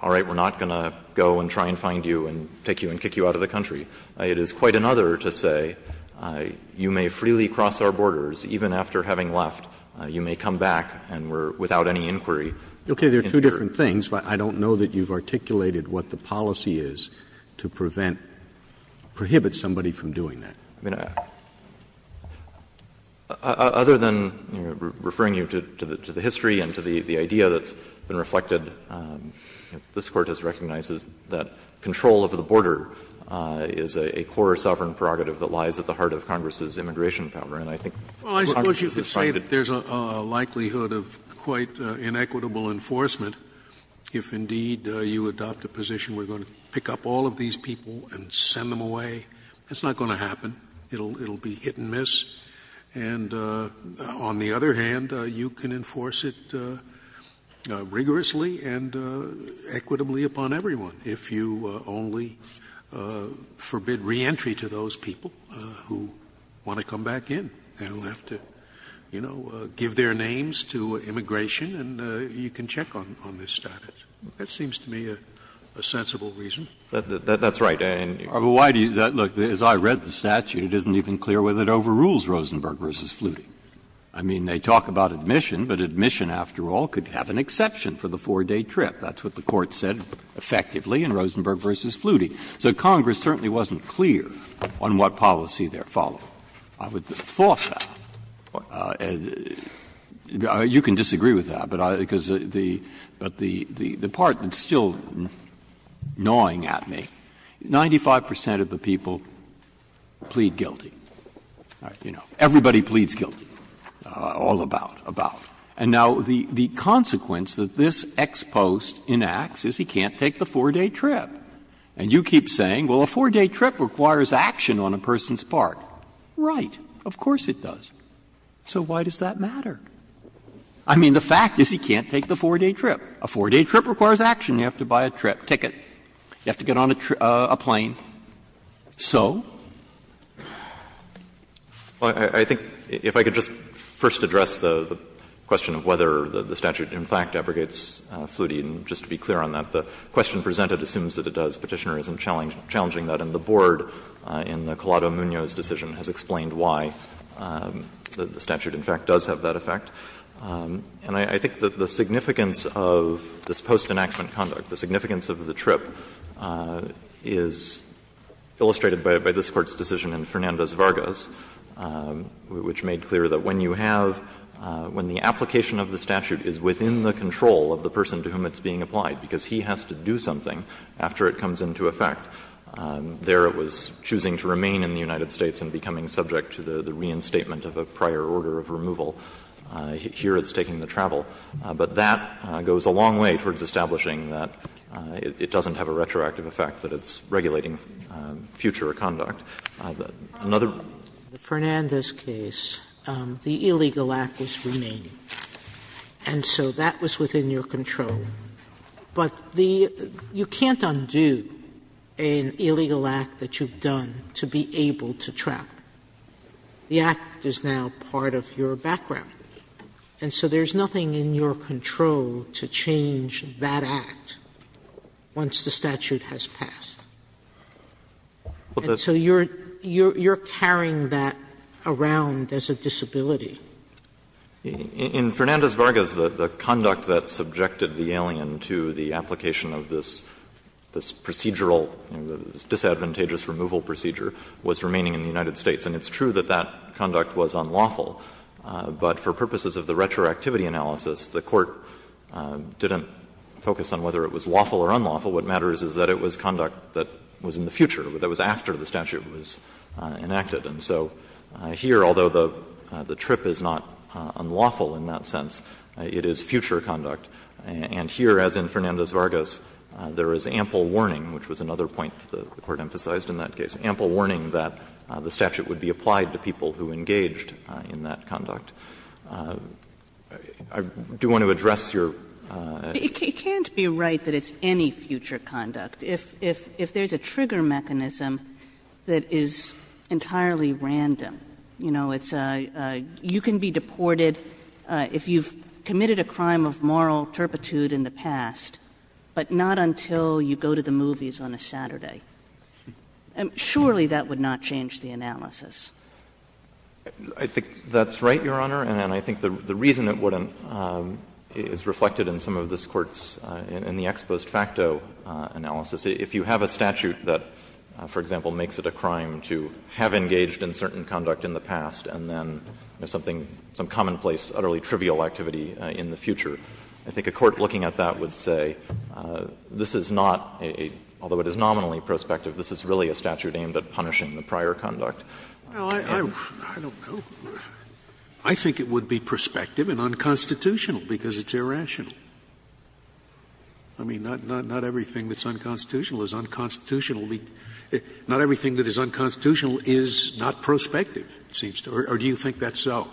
all right, we're not going to go and try and find you and take you and kick you out of the country. It is quite another to say, you may freely cross our borders, even after having left, you may come back and we're without any inquiry. Roberts Okay, there are two different things, but I don't know that you've articulated what the policy is to prevent, prohibit somebody from doing that. I mean, other than referring you to the history and to the idea that's been reflected, this Court has recognized that control over the border is a core sovereign prerogative that lies at the heart of Congress's immigration power. And I think Congress is a part of it. Scalia Well, I suppose you could say that there's a likelihood of quite inequitable enforcement if, indeed, you adopt a position, we're going to pick up all of these people and send them away. That's not going to happen. It will be hit and miss. And on the other hand, you can enforce it rigorously and equitably upon everyone if you only forbid reentry to those people who want to come back in. They don't have to, you know, give their names to immigration and you can check on this statute. That seems to me a sensible reason. Roberts That's right. Breyer Why do you do that? Look, as I read the statute, it isn't even clear whether it overrules Rosenberg v. Flutie. I mean, they talk about admission, but admission, after all, could have an exception for the 4-day trip. That's what the Court said effectively in Rosenberg v. Flutie. So Congress certainly wasn't clear on what policy they're following. I would have thought that. You can disagree with that, but I think it's the part that's still gnawing at me, 95 percent of the people plead guilty. You know, everybody pleads guilty, all about, about. And now the consequence that this ex post enacts is he can't take the 4-day trip. And you keep saying, well, a 4-day trip requires action on a person's part. Right. Of course it does. So why does that matter? I mean, the fact is he can't take the 4-day trip. A 4-day trip requires action. You have to buy a trip ticket. You have to get on a plane. So? Well, I think if I could just first address the question of whether the statute in fact abrogates Flutie, and just to be clear on that, the question presented assumes that it does. Petitioner isn't challenging that. And the board in the Collado-Munoz decision has explained why the statute in fact does have that effect. And I think that the significance of this post enactment conduct, the significance of the trip, is illustrated by this Court's decision in Fernandez-Vargas, which made clear that when you have — when the application of the statute is within the control of the person to whom it's being applied, because he has to do something after it comes into effect, there it was choosing to remain in the United States and becoming subject to the reinstatement of a prior order of removal. Here it's taking the travel. But that goes a long way towards establishing that it doesn't have a retroactive effect, that it's regulating future conduct. Another one. Sotomayor In Fernandez's case, the illegal act was remaining, and so that was within your control. But the — you can't undo an illegal act that you've done to be able to trap. The act is now part of your background. And so there's nothing in your control to change that act once the statute has passed. And so you're carrying that around as a disability. In Fernandez-Vargas, the conduct that subjected the alien to the application of this procedural, this disadvantageous removal procedure was remaining in the United States. And it's true that that conduct was unlawful. But for purposes of the retroactivity analysis, the Court didn't focus on whether it was lawful or unlawful. What matters is that it was conduct that was in the future, that was after the statute was enacted. And so here, although the trip is not unlawful in that sense, it is future conduct. And here, as in Fernandez-Vargas, there is ample warning, which was another point that the Court emphasized in that case, ample warning that the statute would be applied to people who engaged in that conduct. I do want to address your — Kagan It can't be right that it's any future conduct if there's a trigger mechanism that is entirely random. You know, it's a — you can be deported if you've committed a crime of moral turpitude in the past, but not until you go to the movies on a Saturday. Surely that would not change the analysis. I think that's right, Your Honor, and I think the reason it wouldn't is reflected in some of this Court's — in the ex post facto analysis. If you have a statute that, for example, makes it a crime to have engaged in certain conduct in the past and then there's something — some commonplace, utterly trivial activity in the future, I think a court looking at that would say this is not a — although it is nominally prospective, this is really a statute aimed at punishing the prior conduct. Scalia Well, I don't know. I think it would be prospective and unconstitutional, because it's irrational. I mean, not everything that's unconstitutional is unconstitutional. Not everything that is unconstitutional is not prospective, it seems to me. Or do you think that's so?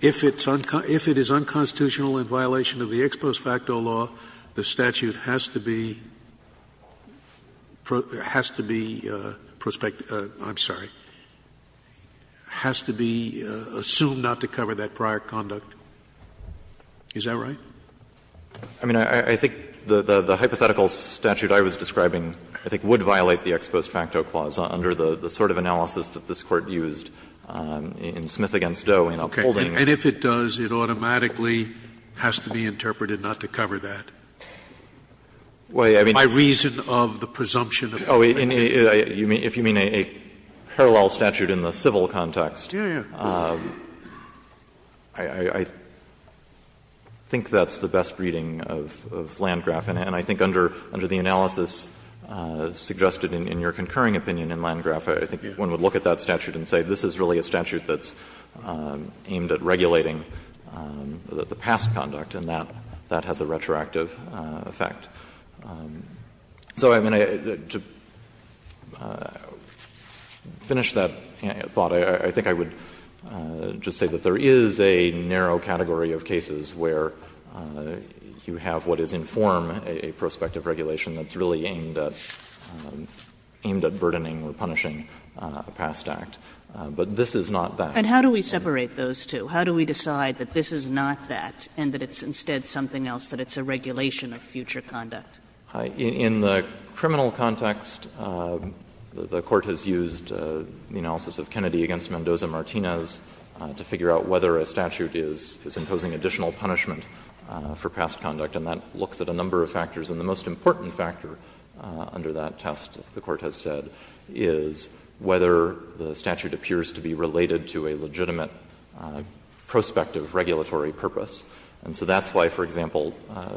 If it's unconstitutional in violation of the ex post facto law, the statute has to be — has to be prospective. I'm sorry. Has to be assumed not to cover that prior conduct. Is that right? I mean, I think the hypothetical statute I was describing, I think, would violate the ex post facto clause under the sort of analysis that this Court used in Smith v. Doe in upholding. Scalia Okay. And if it does, it automatically has to be interpreted not to cover that? My reason of the presumption of a crime. Oh, if you mean a parallel statute in the civil context, I think that's the best reading of Landgraf. And I think under the analysis suggested in your concurring opinion in Landgraf, I think one would look at that statute and say this is really a statute that's aimed at regulating the past conduct, and that has a retroactive effect. So, I mean, to finish that thought, I think I would just say that there is a narrow category of cases where you have what is in form a prospective regulation that's really aimed at — aimed at burdening or punishing a past act. But this is not that. And how do we separate those two? How do we decide that this is not that, and that it's instead something else, that it's a regulation of future conduct? In the criminal context, the Court has used the analysis of Kennedy v. Mendoza-Martinez to figure out whether a statute is imposing additional punishment for past conduct. And that looks at a number of factors. And the most important factor under that test, the Court has said, is whether the statute appears to be related to a legitimate prospective regulatory purpose. And so that's why, for example,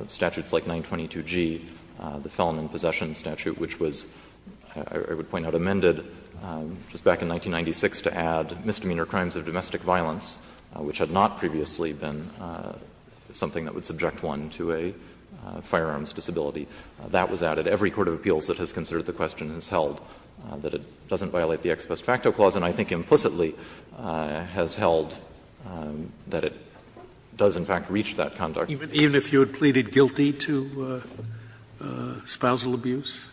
statutes like 922G, the Felon in Possession statute, which was, I would point out, amended just back in 1996 to add misdemeanor crimes of domestic violence, which had not previously been something that would subject one to a firearms disability. That was added. Every court of appeals that has considered the question has held that it doesn't violate the Ex Post Facto Clause, and I think implicitly has held that it does, in fact, reach that conduct. Scalia. Even if you had pleaded guilty to spousal abuse?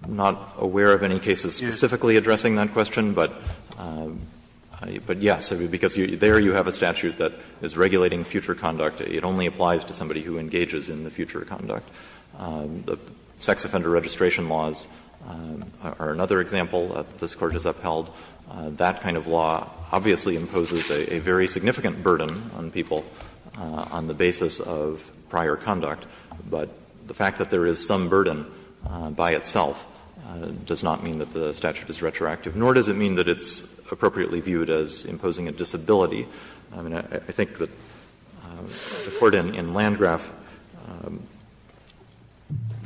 I'm not aware of any cases specifically addressing that question, but, yes, because there you have a statute that is regulating future conduct. It only applies to somebody who engages in the future conduct. The sex offender registration laws are another example that this Court has upheld. That kind of law obviously imposes a very significant burden on people on the basis of prior conduct, but the fact that there is some burden by itself does not mean that the statute is retroactive, nor does it mean that it's appropriately viewed as imposing a disability. I mean, I think that the Court in Landgraf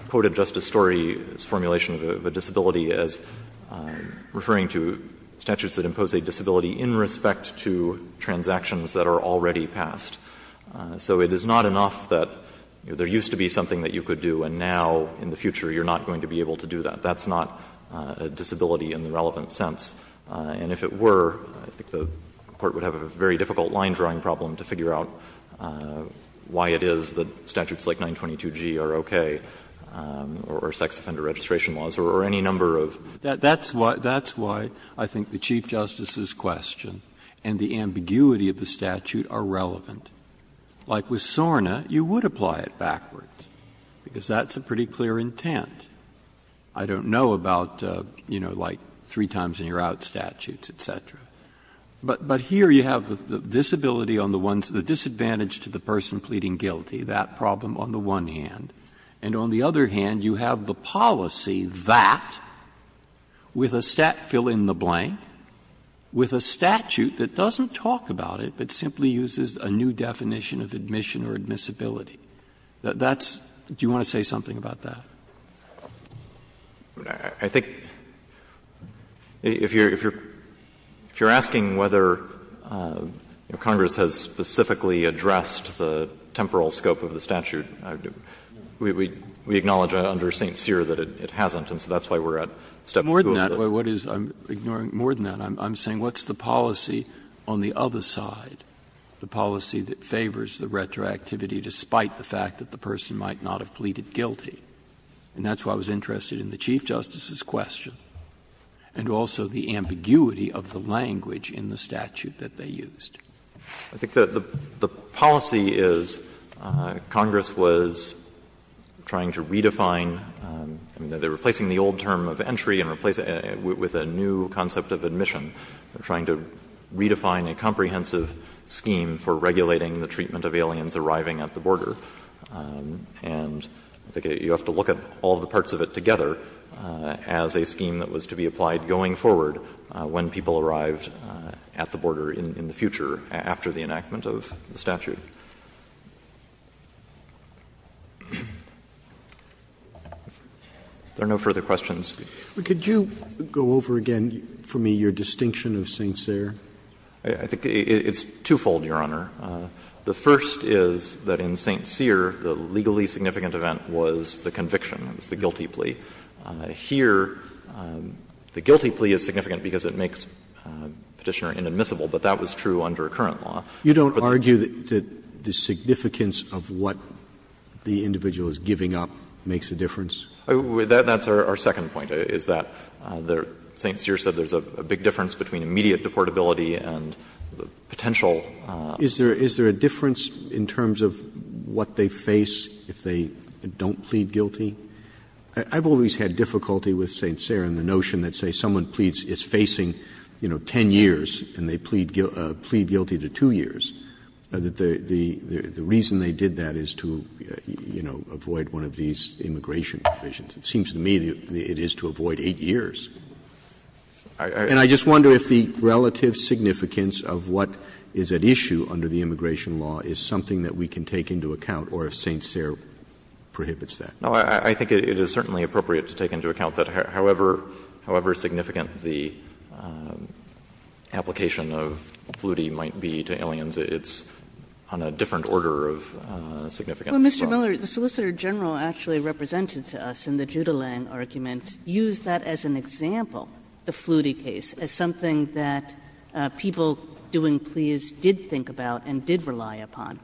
quoted Justice Story's formulation of a disability as referring to statutes that impose a disability in respect to transactions that are already passed. So it is not enough that there used to be something that you could do, and now in the future you're not going to be able to do that. That's not a disability in the relevant sense. And if it were, I think the Court would have a very difficult line-drawing problem to figure out why it is that statutes like 922G are okay, or sex offender registration laws, or any number of. Breyer, that's why I think the Chief Justice's question and the ambiguity of the statute are relevant. Like with SORNA, you would apply it backwards, because that's a pretty clear intent. I don't know about, you know, like three times and you're out statutes, et cetera. But here you have the disability on the one side, the disadvantage to the person pleading guilty, that problem on the one hand. And on the other hand, you have the policy that, with a stat fill in the blank, with a statute that doesn't talk about it, but simply uses a new definition of admission or admissibility. That's do you want to say something about that? I think if you're if you're if you're asking whether Congress has specifically addressed the temporal scope of the statute, we acknowledge under St. Cyr that it hasn't. And so that's why we're at step two of the. More than that, I'm saying what's the policy on the other side, the policy that favors the retroactivity despite the fact that the person might not have pleaded guilty? And that's why I was interested in the Chief Justice's question and also the ambiguity of the language in the statute that they used. I think the policy is Congress was trying to redefine, I mean, they're replacing the old term of entry and replacing it with a new concept of admission. They're trying to redefine a comprehensive scheme for regulating the treatment of aliens arriving at the border. And I think you have to look at all the parts of it together as a scheme that was to be applied going forward when people arrived at the border in the future after the enactment of the statute. Are there no further questions? Could you go over again for me your distinction of St. Cyr? I think it's twofold, Your Honor. The first is that in St. Cyr, the legally significant event was the conviction, it was the guilty plea. Here, the guilty plea is significant because it makes Petitioner inadmissible, but that was true under current law. You don't argue that the significance of what the individual is giving up makes a difference? That's our second point, is that St. Cyr said there's a big difference between immediate deportability and the potential. Is there a difference in terms of what they face if they don't plead guilty? I've always had difficulty with St. Cyr and the notion that, say, someone pleads is facing, you know, 10 years and they plead guilty to 2 years, that the reason they did that is to, you know, avoid one of these immigration provisions. It seems to me it is to avoid 8 years. And I just wonder if the relative significance of what is at issue under the immigration law is something that we can take into account or if St. Cyr prohibits that. No, I think it is certainly appropriate to take into account that however significant the application of Flutie might be to aliens, it's on a different order of significance. Kagan. Kagan. But, Mr. Miller, the Solicitor General actually represented to us in the Judelang argument used that as an example, the Flutie case, as something that people doing pleas did think about and did rely upon.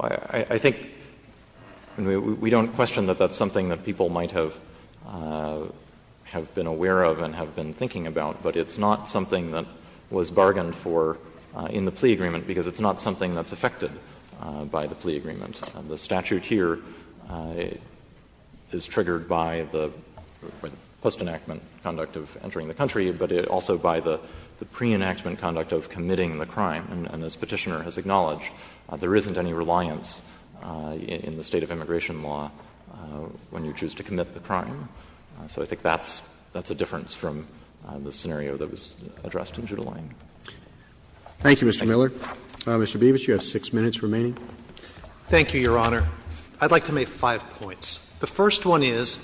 I think we don't question that that's something that people might have been aware of and have been thinking about, but it's not something that was bargained for in the plea agreement because it's not something that's affected by the plea agreement. The statute here is triggered by the post-enactment conduct of entering the country, but also by the pre-enactment conduct of committing the crime. And as Petitioner has acknowledged, there isn't any reliance in the state of immigration law when you choose to commit the crime. So I think that's a difference from the scenario that was addressed in Judelang. Thank you, Mr. Miller. Mr. Beavis, you have 6 minutes remaining. Thank you, Your Honor. I'd like to make five points. The first one is,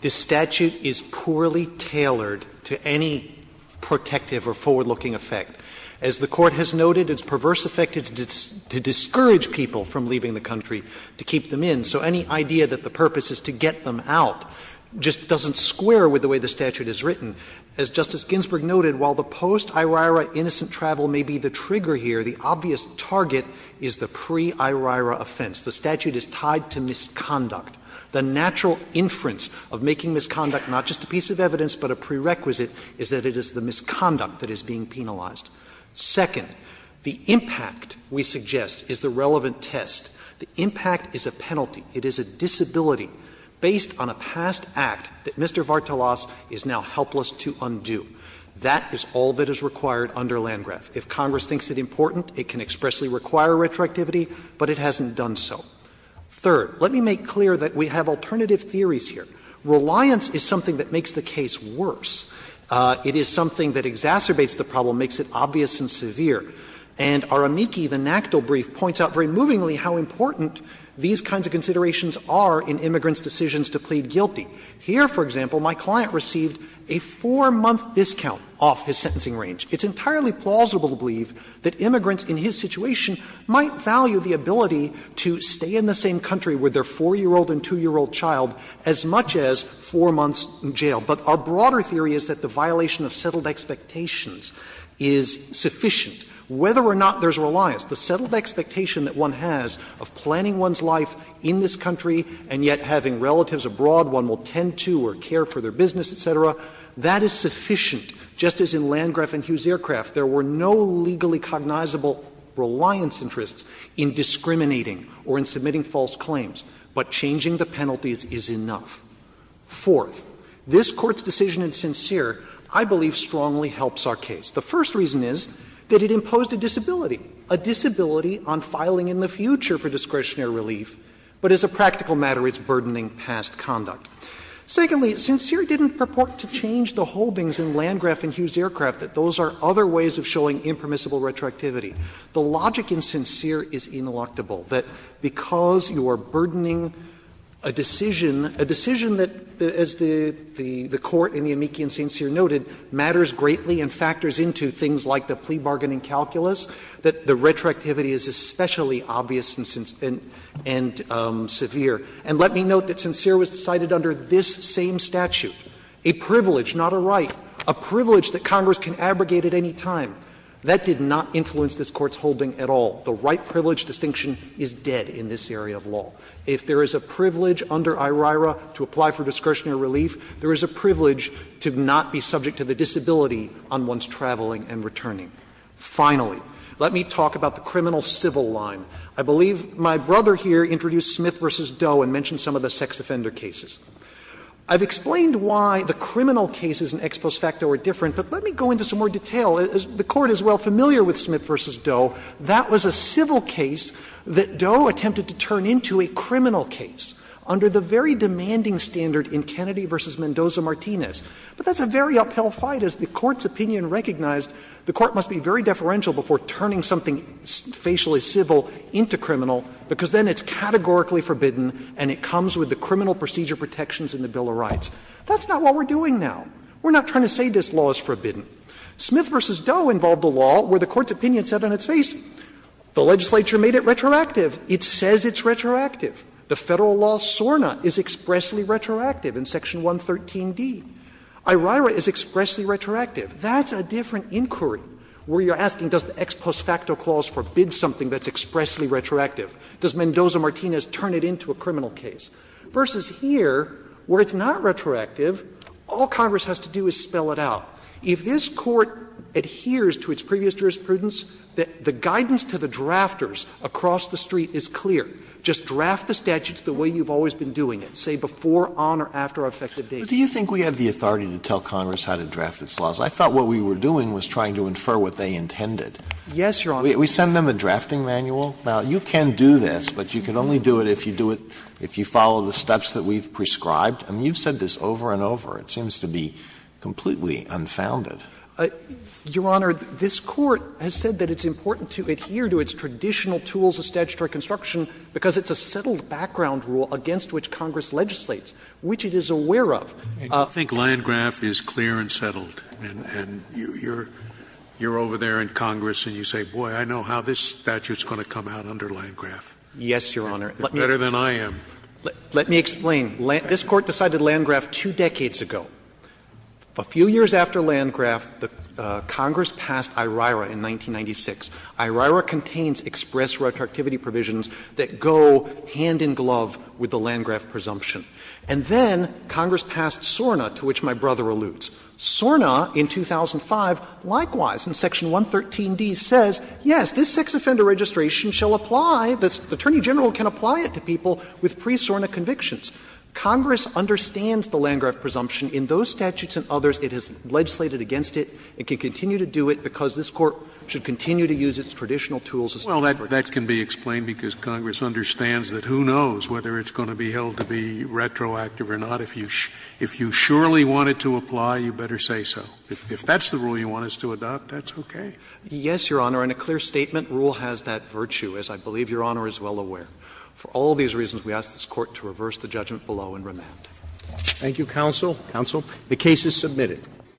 this statute is poorly tailored to any protective or forward-looking effect. As the Court has noted, it's perverse effected to discourage people from leaving the country to keep them in. So any idea that the purpose is to get them out just doesn't square with the way the statute is written. As Justice Ginsburg noted, while the post-IRIRA innocent travel may be the trigger here, the obvious target is the pre-IRIRA offense. The statute is tied to misconduct. The natural inference of making misconduct not just a piece of evidence but a prerequisite is that it is the misconduct that is being penalized. Second, the impact, we suggest, is the relevant test. The impact is a penalty. It is a disability based on a past act that Mr. Vartelas is now helpless to undo. That is all that is required under Landgraf. If Congress thinks it important, it can expressly require retroactivity, but it hasn't done so. Third, let me make clear that we have alternative theories here. Reliance is something that makes the case worse. It is something that exacerbates the problem, makes it obvious and severe. And our amici, the NACDL brief, points out very movingly how important these kinds of considerations are in immigrants' decisions to plead guilty. Here, for example, my client received a 4-month discount off his sentencing range. It's entirely plausible to believe that immigrants in his situation might value the ability to stay in the same country with their 4-year-old and 2-year-old child as much as 4 months in jail. But our broader theory is that the violation of settled expectations is sufficient. Whether or not there is a reliance, the settled expectation that one has of planning one's life in this country and yet having relatives abroad one will tend to or care for their business, et cetera, that is sufficient. Just as in Landgraf and Hughes Aircraft, there were no legally cognizable reliance interests in discriminating or in submitting false claims, but changing the penalties is enough. Fourth, this Court's decision in Sincere, I believe, strongly helps our case. The first reason is that it imposed a disability, a disability on filing in the future for discretionary relief, but as a practical matter it's burdening past conduct. Secondly, Sincere didn't purport to change the holdings in Landgraf and Hughes Aircraft that those are other ways of showing impermissible retroactivity. The logic in Sincere is ineluctable, that because you are burdening a decision a decision that, as the Court in the amici in Sincere noted, matters greatly and factors into things like the plea bargaining calculus, that the retroactivity is especially obvious and severe. And let me note that Sincere was decided under this same statute, a privilege, not a right, a privilege that Congress can abrogate at any time. That did not influence this Court's holding at all. The right privilege distinction is dead in this area of law. If there is a privilege under IRIRA to apply for discretionary relief, there is a privilege to not be subject to the disability on one's traveling and returning. Finally, let me talk about the criminal civil line. I believe my brother here introduced Smith v. Doe and mentioned some of the sex offender cases. I've explained why the criminal cases in Ex Post Facto are different, but let me go into some more detail. The Court is well familiar with Smith v. Doe. That was a civil case that Doe attempted to turn into a criminal case under the very demanding standard in Kennedy v. Mendoza-Martinez. But that's a very uphill fight, as the Court's opinion recognized the Court must be very deferential before turning something facially civil into criminal, because then it's categorically forbidden and it comes with the criminal procedure protections in the Bill of Rights. That's not what we're doing now. We're not trying to say this law is forbidden. Smith v. Doe involved a law where the Court's opinion said on its face, the legislature made it retroactive. It says it's retroactive. The Federal law SORNA is expressly retroactive in Section 113d. IRIRA is expressly retroactive. That's a different inquiry where you're asking does the Ex Post Facto clause forbid something that's expressly retroactive? Does Mendoza-Martinez turn it into a criminal case? Versus here, where it's not retroactive, all Congress has to do is spell it out. If this Court adheres to its previous jurisprudence, the guidance to the drafters across the street is clear. Just draft the statutes the way you've always been doing it, say before, on, or after effective date. Alito, do you think we have the authority to tell Congress how to draft its laws? I thought what we were doing was trying to infer what they intended. Yes, Your Honor. We send them a drafting manual? Now, you can do this, but you can only do it if you do it, if you follow the steps that we've prescribed. I mean, you've said this over and over. It seems to be completely unfounded. Your Honor, this Court has said that it's important to adhere to its traditional tools of statutory construction because it's a settled background rule against which Congress legislates, which it is aware of. I think Landgraf is clear and settled. And you're over there in Congress and you say, boy, I know how this statute is going to come out under Landgraf. Yes, Your Honor. Better than I am. Let me explain. This Court decided Landgraf two decades ago. A few years after Landgraf, Congress passed IRIRA in 1996. IRIRA contains express retroactivity provisions that go hand in glove with the Landgraf presumption. And then Congress passed SORNA, to which my brother alludes. SORNA in 2005, likewise, in Section 113d, says, yes, this sex offender registration shall apply, the Attorney General can apply it to people with pre-SORNA convictions. Congress understands the Landgraf presumption. In those statutes and others, it has legislated against it. It can continue to do it because this Court should continue to use its traditional tools of statutory construction. Scalia Well, that can be explained because Congress understands that who knows whether it's going to be held to be retroactive or not. If you surely want it to apply, you better say so. If that's the rule you want us to adopt, that's okay. Waxman Yes, Your Honor. And a clear statement rule has that virtue, as I believe Your Honor is well aware. For all these reasons, we ask this Court to reverse the judgment below and remand. Roberts Thank you, counsel. Counsel. The case is submitted.